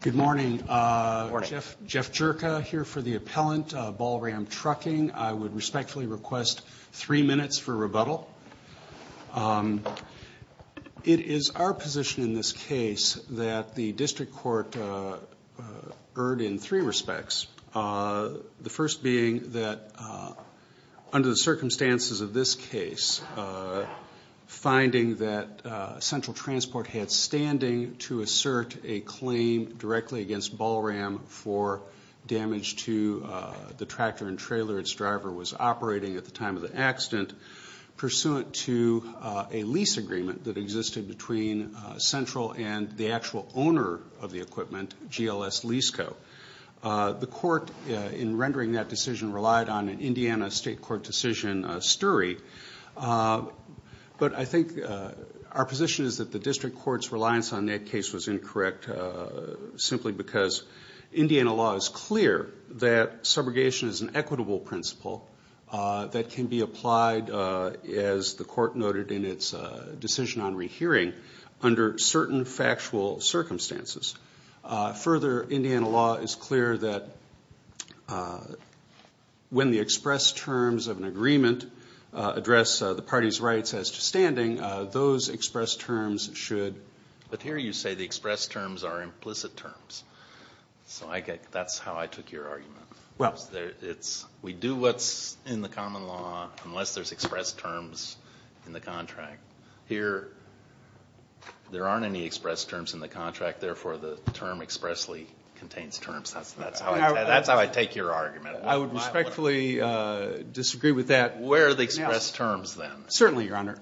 Good morning, Jeff Jerka here for the appellant Balram Trucking. I would respectfully request three minutes for rebuttal. It is our position in this case that the district court erred in three respects. The first being that under the circumstances of this case, finding that Central Transport had standing to assert a claim directly against Balram for damage to the tractor and pursuant to a lease agreement that existed between Central and the actual owner of the equipment, GLS Lease Co. The court, in rendering that decision, relied on an Indiana state court decision, STERE. But I think our position is that the district court's reliance on that case was incorrect simply because as the court noted in its decision on rehearing, under certain factual circumstances. Further, Indiana law is clear that when the express terms of an agreement address the party's rights as to standing, those express terms should... Unless there's express terms in the contract. Here, there aren't any express terms in the contract. Therefore, the term expressly contains terms. That's how I take your argument. I would respectfully disagree with that. Where are the express terms then? Certainly, Your Honor.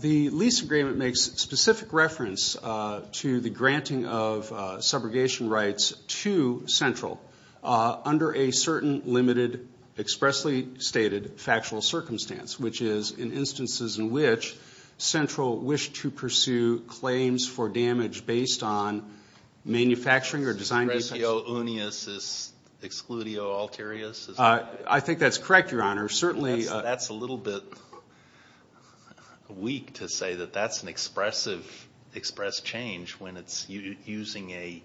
The lease agreement makes specific reference to the granting of subrogation rights to Central under a certain limited expressly stated factual circumstance, which is in instances in which Central wished to pursue claims for damage based on manufacturing or design... Excludio uneus, excludio alterius? I think that's correct, Your Honor. Certainly... I'm a little bit weak to say that that's an express change when it's using a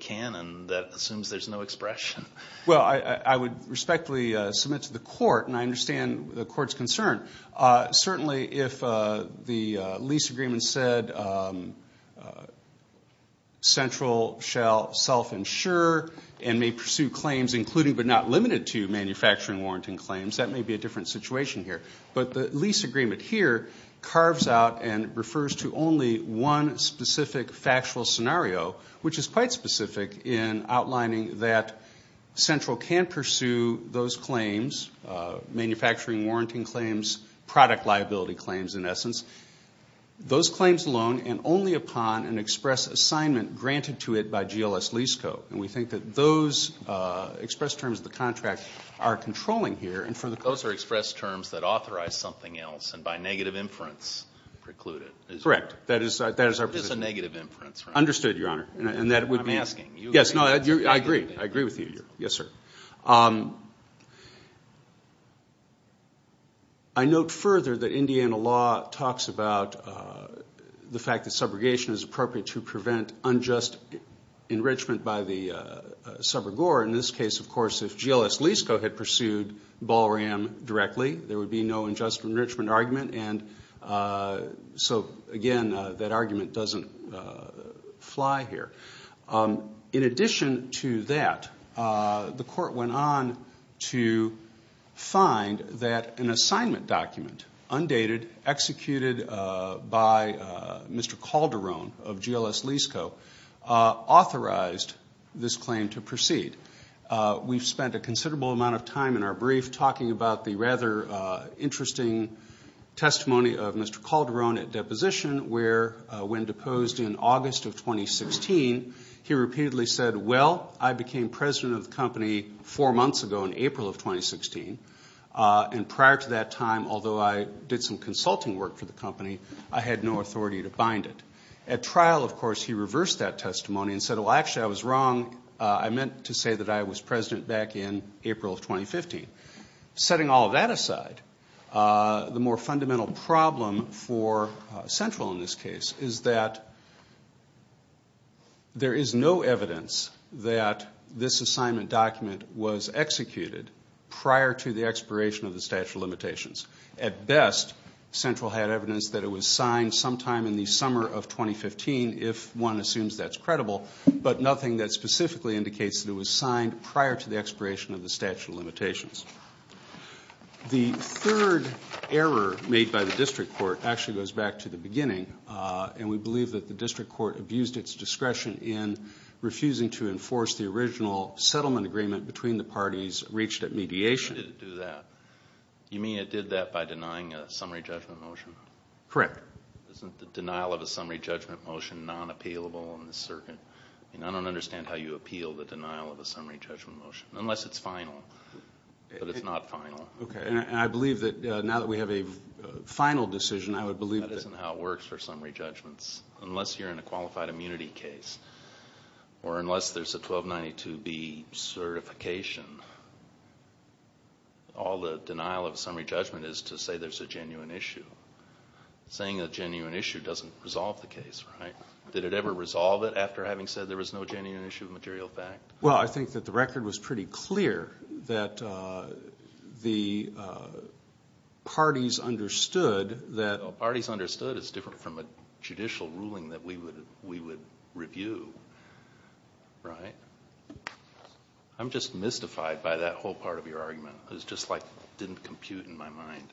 canon that assumes there's no expression. Well, I would respectfully submit to the court, and I understand the court's concern. Certainly, if the lease agreement said Central shall self-insure and may pursue claims including but not limited to manufacturing warranting claims, that may be a different situation here. But the lease agreement here carves out and refers to only one specific factual scenario, which is quite specific in outlining that Central can pursue those claims, manufacturing warranting claims, product liability claims, in essence. Those claims alone and only upon an express assignment granted to it by GLS lease code. And we think that those express terms of the contract are controlling here. Those are express terms that authorize something else and by negative inference preclude it. Correct. That is our position. That is a negative inference, right? Understood, Your Honor. I'm asking. Yes, no, I agree. I agree with you. Yes, sir. I note further that Indiana law talks about the fact that subrogation is appropriate to prevent unjust enrichment by the subrogor. In this case, of course, if GLS lease code had pursued ball ram directly, there would be no unjust enrichment argument. And so, again, that argument doesn't fly here. In addition to that, the court went on to find that an assignment document, undated, executed by Mr. Calderon of GLS lease code authorized this claim to proceed. We've spent a considerable amount of time in our brief talking about the rather interesting testimony of Mr. Calderon at deposition where when deposed in August of 2016, he repeatedly said, well, I became president of the company four months ago in April of 2016. And prior to that time, although I did some consulting work for the company, I had no authority to bind it. At trial, of course, he reversed that testimony and said, well, actually, I was wrong. I meant to say that I was president back in April of 2015. Setting all of that aside, the more fundamental problem for Central in this case is that there is no evidence that this assignment document was executed prior to the expiration of the statute of limitations. At best, Central had evidence that it was signed sometime in the summer of 2015, if one assumes that's credible, but nothing that specifically indicates that it was signed prior to the expiration of the statute of limitations. The third error made by the district court actually goes back to the beginning, and we believe that the district court abused its discretion in refusing to enforce the original settlement agreement between the parties reached at mediation. Why did it do that? You mean it did that by denying a summary judgment motion? Correct. Isn't the denial of a summary judgment motion non-appealable in the circuit? I mean, I don't understand how you appeal the denial of a summary judgment motion, unless it's final, but it's not final. Okay. And I believe that now that we have a final decision, I would believe that that's the basis in how it works for summary judgments, unless you're in a qualified immunity case or unless there's a 1292B certification. All the denial of a summary judgment is to say there's a genuine issue. Saying a genuine issue doesn't resolve the case, right? Did it ever resolve it after having said there was no genuine issue of material fact? Well, I think that the record was pretty clear that the parties understood that it's different from a judicial ruling that we would review, right? I'm just mystified by that whole part of your argument. It just, like, didn't compute in my mind.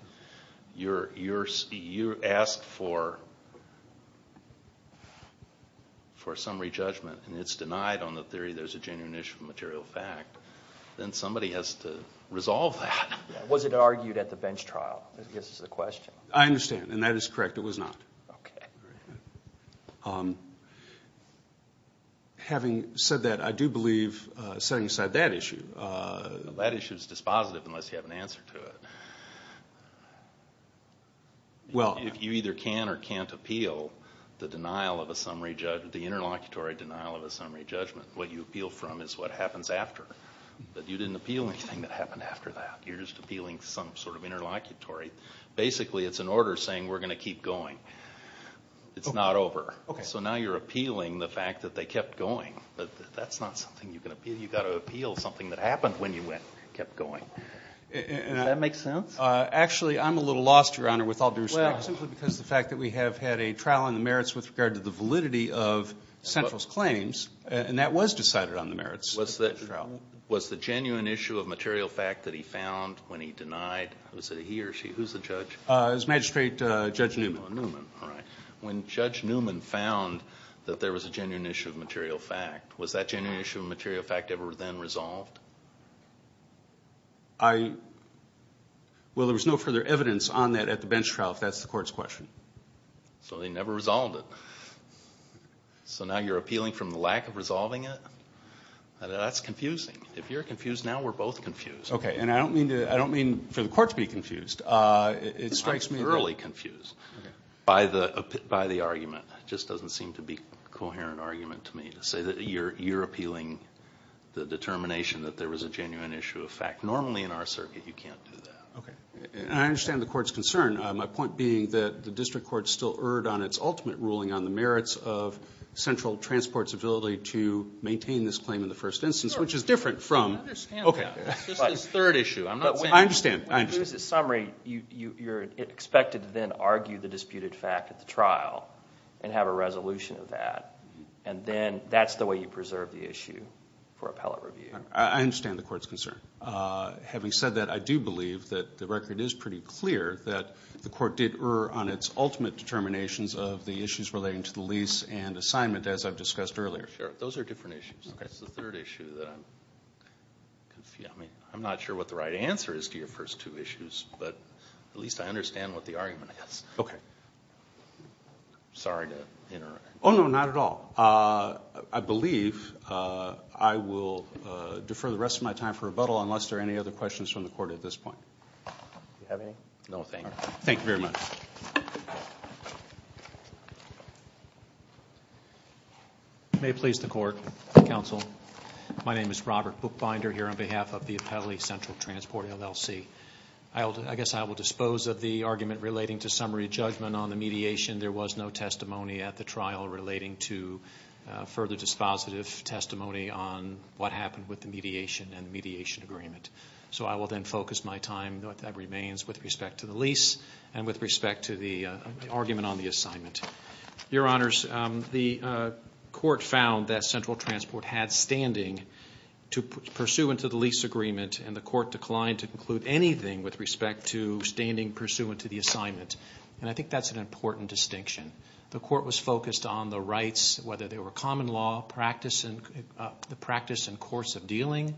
You asked for a summary judgment, and it's denied on the theory there's a genuine issue of material fact. Then somebody has to resolve that. Was it argued at the bench trial? I guess is the question. I understand, and that is correct. It was not. Okay. Having said that, I do believe, setting aside that issue, that issue is dispositive unless you have an answer to it. Well, if you either can or can't appeal the interlocutory denial of a summary judgment, what you appeal from is what happens after. But you didn't appeal anything that happened after that. You're just appealing some sort of interlocutory. Basically, it's an order saying we're going to keep going. It's not over. Okay. So now you're appealing the fact that they kept going. That's not something you can appeal. You've got to appeal something that happened when you kept going. Does that make sense? Actually, I'm a little lost, Your Honor, with all due respect, simply because the fact that we have had a trial on the merits with regard to the validity of Central's claims, and that was decided on the merits. Was the genuine issue of material fact that he found when he denied? Was it he or she? Who's the judge? It was Magistrate Judge Newman. Oh, Newman. All right. When Judge Newman found that there was a genuine issue of material fact, was that genuine issue of material fact ever then resolved? Well, there was no further evidence on that at the bench trial if that's the Court's question. So they never resolved it. So now you're appealing from the lack of resolving it? That's confusing. If you're confused now, we're both confused. Okay. And I don't mean for the Court to be confused. I'm thoroughly confused by the argument. It just doesn't seem to be a coherent argument to me to say that you're appealing the determination that there was a genuine issue of fact. Normally in our circuit you can't do that. Okay. And I understand the Court's concern. My point being that the district court still erred on its ultimate ruling on the merits of Central Transport's ability to maintain this claim in the first instance, which is different from ‑‑ I understand that. Okay. This is the third issue. I'm not saying ‑‑ I understand. I understand. When you use the summary, you're expected to then argue the disputed fact at the trial and have a resolution of that. And then that's the way you preserve the issue for appellate review. I understand the Court's concern. Having said that, I do believe that the record is pretty clear that the Court did err on its ultimate determinations of the issues relating to the lease and assignment as I've discussed earlier. Sure. Those are different issues. Okay. It's the third issue that I'm ‑‑ I'm not sure what the right answer is to your first two issues, but at least I understand what the argument is. Okay. Sorry to interrupt. Oh, no, not at all. I believe I will defer the rest of my time for rebuttal unless there are any other questions from the Court at this point. Do you have any? No, thank you. Thank you very much. May it please the Court, Counsel, my name is Robert Buchbinder here on behalf of the Appellee Central Transport, LLC. I guess I will dispose of the argument relating to summary judgment on the mediation. There was no testimony at the trial relating to further dispositive testimony on what happened with the mediation and the mediation agreement. So I will then focus my time, that remains, with respect to the lease and with respect to the argument on the assignment. Your Honors, the Court found that Central Transport had standing pursuant to the lease agreement and the Court declined to conclude anything with respect to standing pursuant to the assignment. And I think that's an important distinction. The Court was focused on the rights, whether they were common law, practice and ‑‑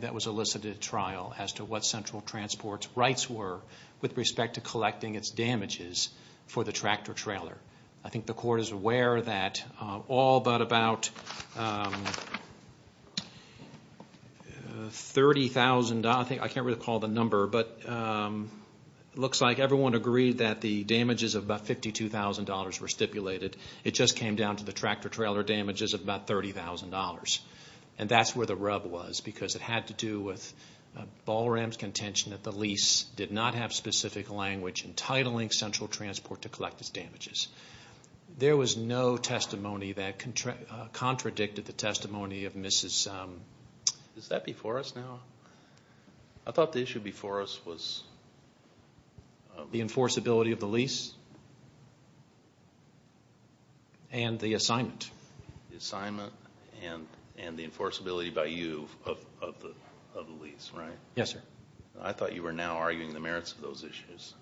that was elicited at trial as to what Central Transport's rights were with respect to collecting its damages for the tractor trailer. I think the Court is aware that all but about $30,000, I can't really recall the number, but it looks like everyone agreed that the damages of about $52,000 were stipulated. It just came down to the tractor trailer damages of about $30,000. And that's where the rub was because it had to do with Ballram's contention that the lease did not have specific language entitling Central Transport to collect its damages. There was no testimony that contradicted the testimony of Mrs. ‑‑ Is that before us now? I thought the issue before us was ‑‑ The enforceability of the lease and the assignment. The assignment and the enforceability by you of the lease, right? Yes, sir. I thought you were now arguing the merits of those issues.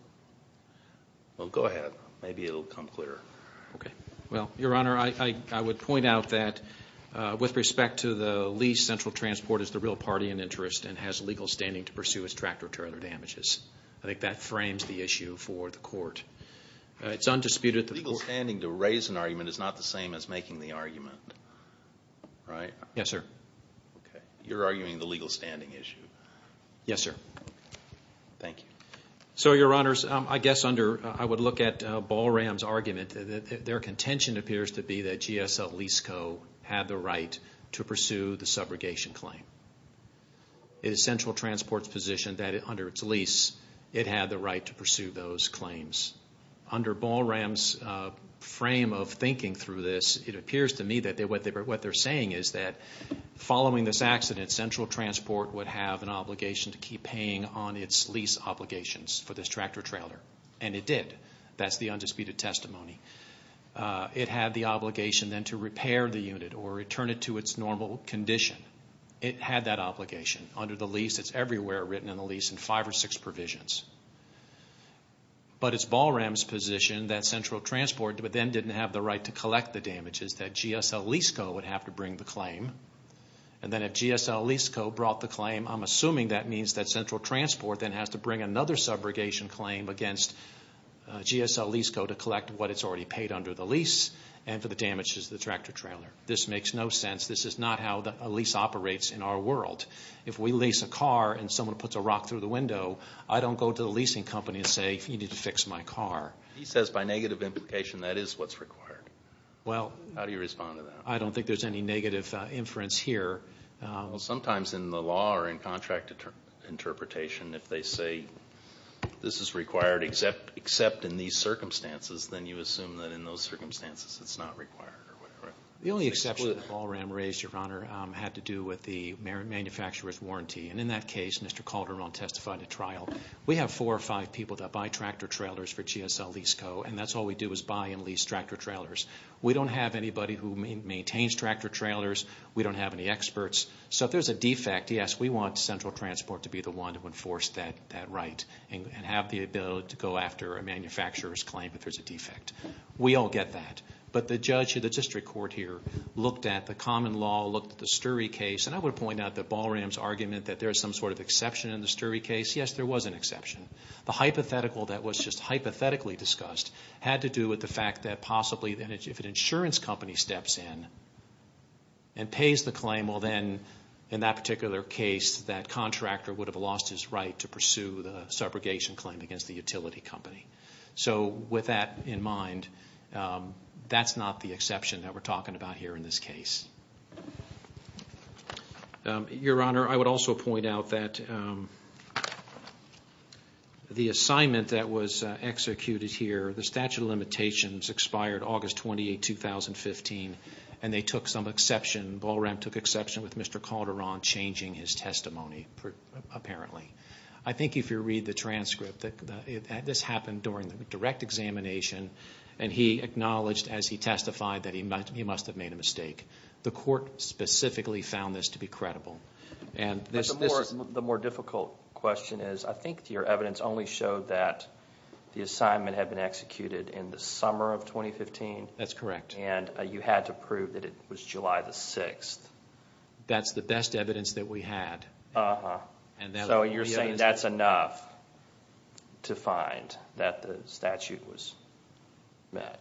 Well, go ahead. Maybe it will become clearer. Okay. Well, Your Honor, I would point out that with respect to the lease, Central Transport is the real party in interest and has legal standing to pursue its tractor trailer damages. I think that frames the issue for the Court. It's undisputed that the ‑‑ You're arguing the argument, right? Yes, sir. Okay. You're arguing the legal standing issue. Yes, sir. Okay. Thank you. So, Your Honors, I guess under ‑‑ I would look at Ballram's argument. Their contention appears to be that GSL Lease Co. had the right to pursue the subrogation claim. It is Central Transport's position that under its lease, it had the right to pursue those claims. Under Ballram's frame of thinking through this, it appears to me that what they're saying is that following this accident, Central Transport would have an obligation to keep paying on its lease obligations for this tractor trailer, and it did. That's the undisputed testimony. It had the obligation then to repair the unit or return it to its normal condition. It had that obligation. Under the lease, it's everywhere written in the lease in five or six provisions. But it's Ballram's position that Central Transport then didn't have the right to collect the damages that GSL Lease Co. would have to bring the claim. And then if GSL Lease Co. brought the claim, I'm assuming that means that Central Transport then has to bring another subrogation claim against GSL Lease Co. to collect what it's already paid under the lease and for the damages to the tractor trailer. This makes no sense. This is not how a lease operates in our world. If we lease a car and someone puts a rock through the window, I don't go to the leasing company and say, you need to fix my car. He says by negative implication that is what's required. How do you respond to that? I don't think there's any negative inference here. Sometimes in the law or in contract interpretation, if they say this is required except in these circumstances, then you assume that in those circumstances it's not required or whatever. The only exception that Ballram raised, Your Honor, had to do with the manufacturer's warranty. In that case, Mr. Calderon testified at trial, we have four or five people that buy tractor trailers for GSL Lease Co., and that's all we do is buy and lease tractor trailers. We don't have anybody who maintains tractor trailers. We don't have any experts. So if there's a defect, yes, we want Central Transport to be the one to enforce that right and have the ability to go after a manufacturer's claim if there's a defect. We all get that. But the judge at the district court here looked at the common law, looked at the Sturry case, and I would point out that Ballram's argument that there is some sort of exception in the Sturry case, yes, there was an exception. The hypothetical that was just hypothetically discussed had to do with the fact that possibly if an insurance company steps in and pays the claim, well, then, in that particular case, that contractor would have lost his right to pursue the subrogation claim against the utility company. So with that in mind, that's not the exception that we're talking about here in this case. Your Honor, I would also point out that the assignment that was executed here, the statute of limitations expired August 28, 2015, and they took some exception. Ballram took exception with Mr. Calderon changing his testimony, apparently. I think if you read the transcript, this happened during the direct examination, and he acknowledged as he testified that he must have made a mistake. The court specifically found this to be credible. But the more difficult question is, I think your evidence only showed that the assignment had been executed in the summer of 2015. That's correct. And you had to prove that it was July the 6th. That's the best evidence that we had. So you're saying that's enough to find that the statute was met.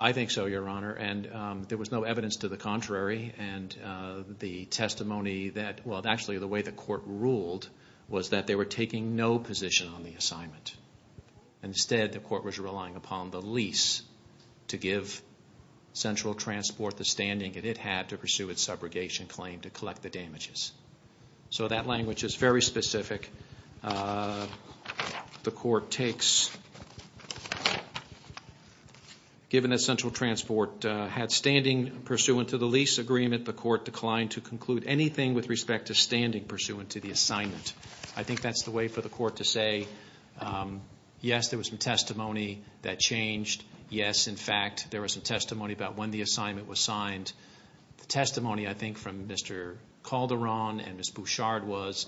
I think so, Your Honor. And there was no evidence to the contrary. And the testimony that – well, actually, the way the court ruled was that they were taking no position on the assignment. Instead, the court was relying upon the lease to give Central Transport the standing it had to pursue its subrogation claim to collect the damages. So that language is very specific. The court takes, given that Central Transport had standing pursuant to the lease agreement, the court declined to conclude anything with respect to standing pursuant to the assignment. I think that's the way for the court to say, yes, there was some testimony that changed. Yes, in fact, there was some testimony about when the assignment was signed. And the testimony, I think, from Mr. Calderon and Ms. Bouchard was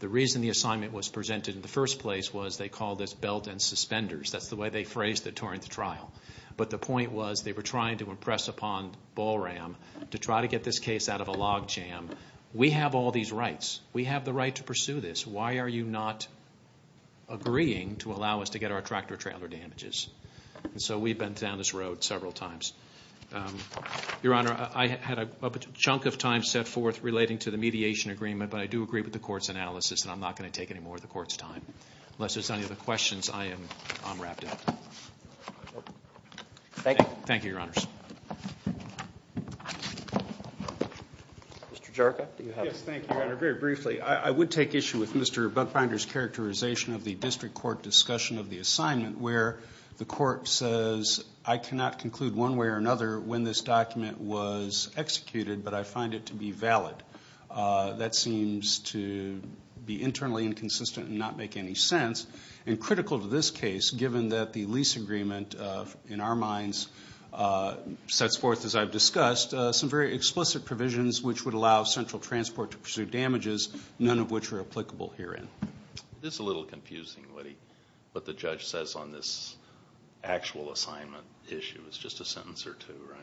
the reason the assignment was presented in the first place was they called this belt and suspenders. That's the way they phrased it during the trial. But the point was they were trying to impress upon Ballram to try to get this case out of a log jam. We have all these rights. We have the right to pursue this. Why are you not agreeing to allow us to get our tractor-trailer damages? And so we've been down this road several times. Your Honor, I had a chunk of time set forth relating to the mediation agreement, but I do agree with the court's analysis, and I'm not going to take any more of the court's time. Unless there's any other questions, I am unwrapped. Thank you, Your Honors. Mr. Jerka, do you have a question? Yes, thank you, Your Honor. Very briefly, I would take issue with Mr. Buckbinder's characterization of the district court discussion of the assignment where the court says, I cannot conclude one way or another when this document was executed, but I find it to be valid. That seems to be internally inconsistent and not make any sense, and critical to this case given that the lease agreement, in our minds, sets forth, as I've discussed, some very explicit provisions which would allow Central Transport to pursue damages, none of which are applicable herein. It is a little confusing, what the judge says on this actual assignment issue. It's just a sentence or two, right?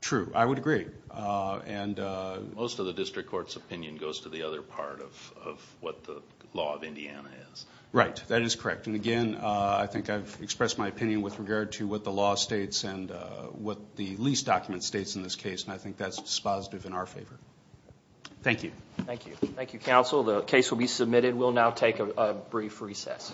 True. I would agree. Most of the district court's opinion goes to the other part of what the law of Indiana is. Right. That is correct. Again, I think I've expressed my opinion with regard to what the law states and what the lease document states in this case, and I think that's dispositive in our favor. Thank you. Thank you. Thank you, counsel. The case will be submitted. We'll now take a brief recess.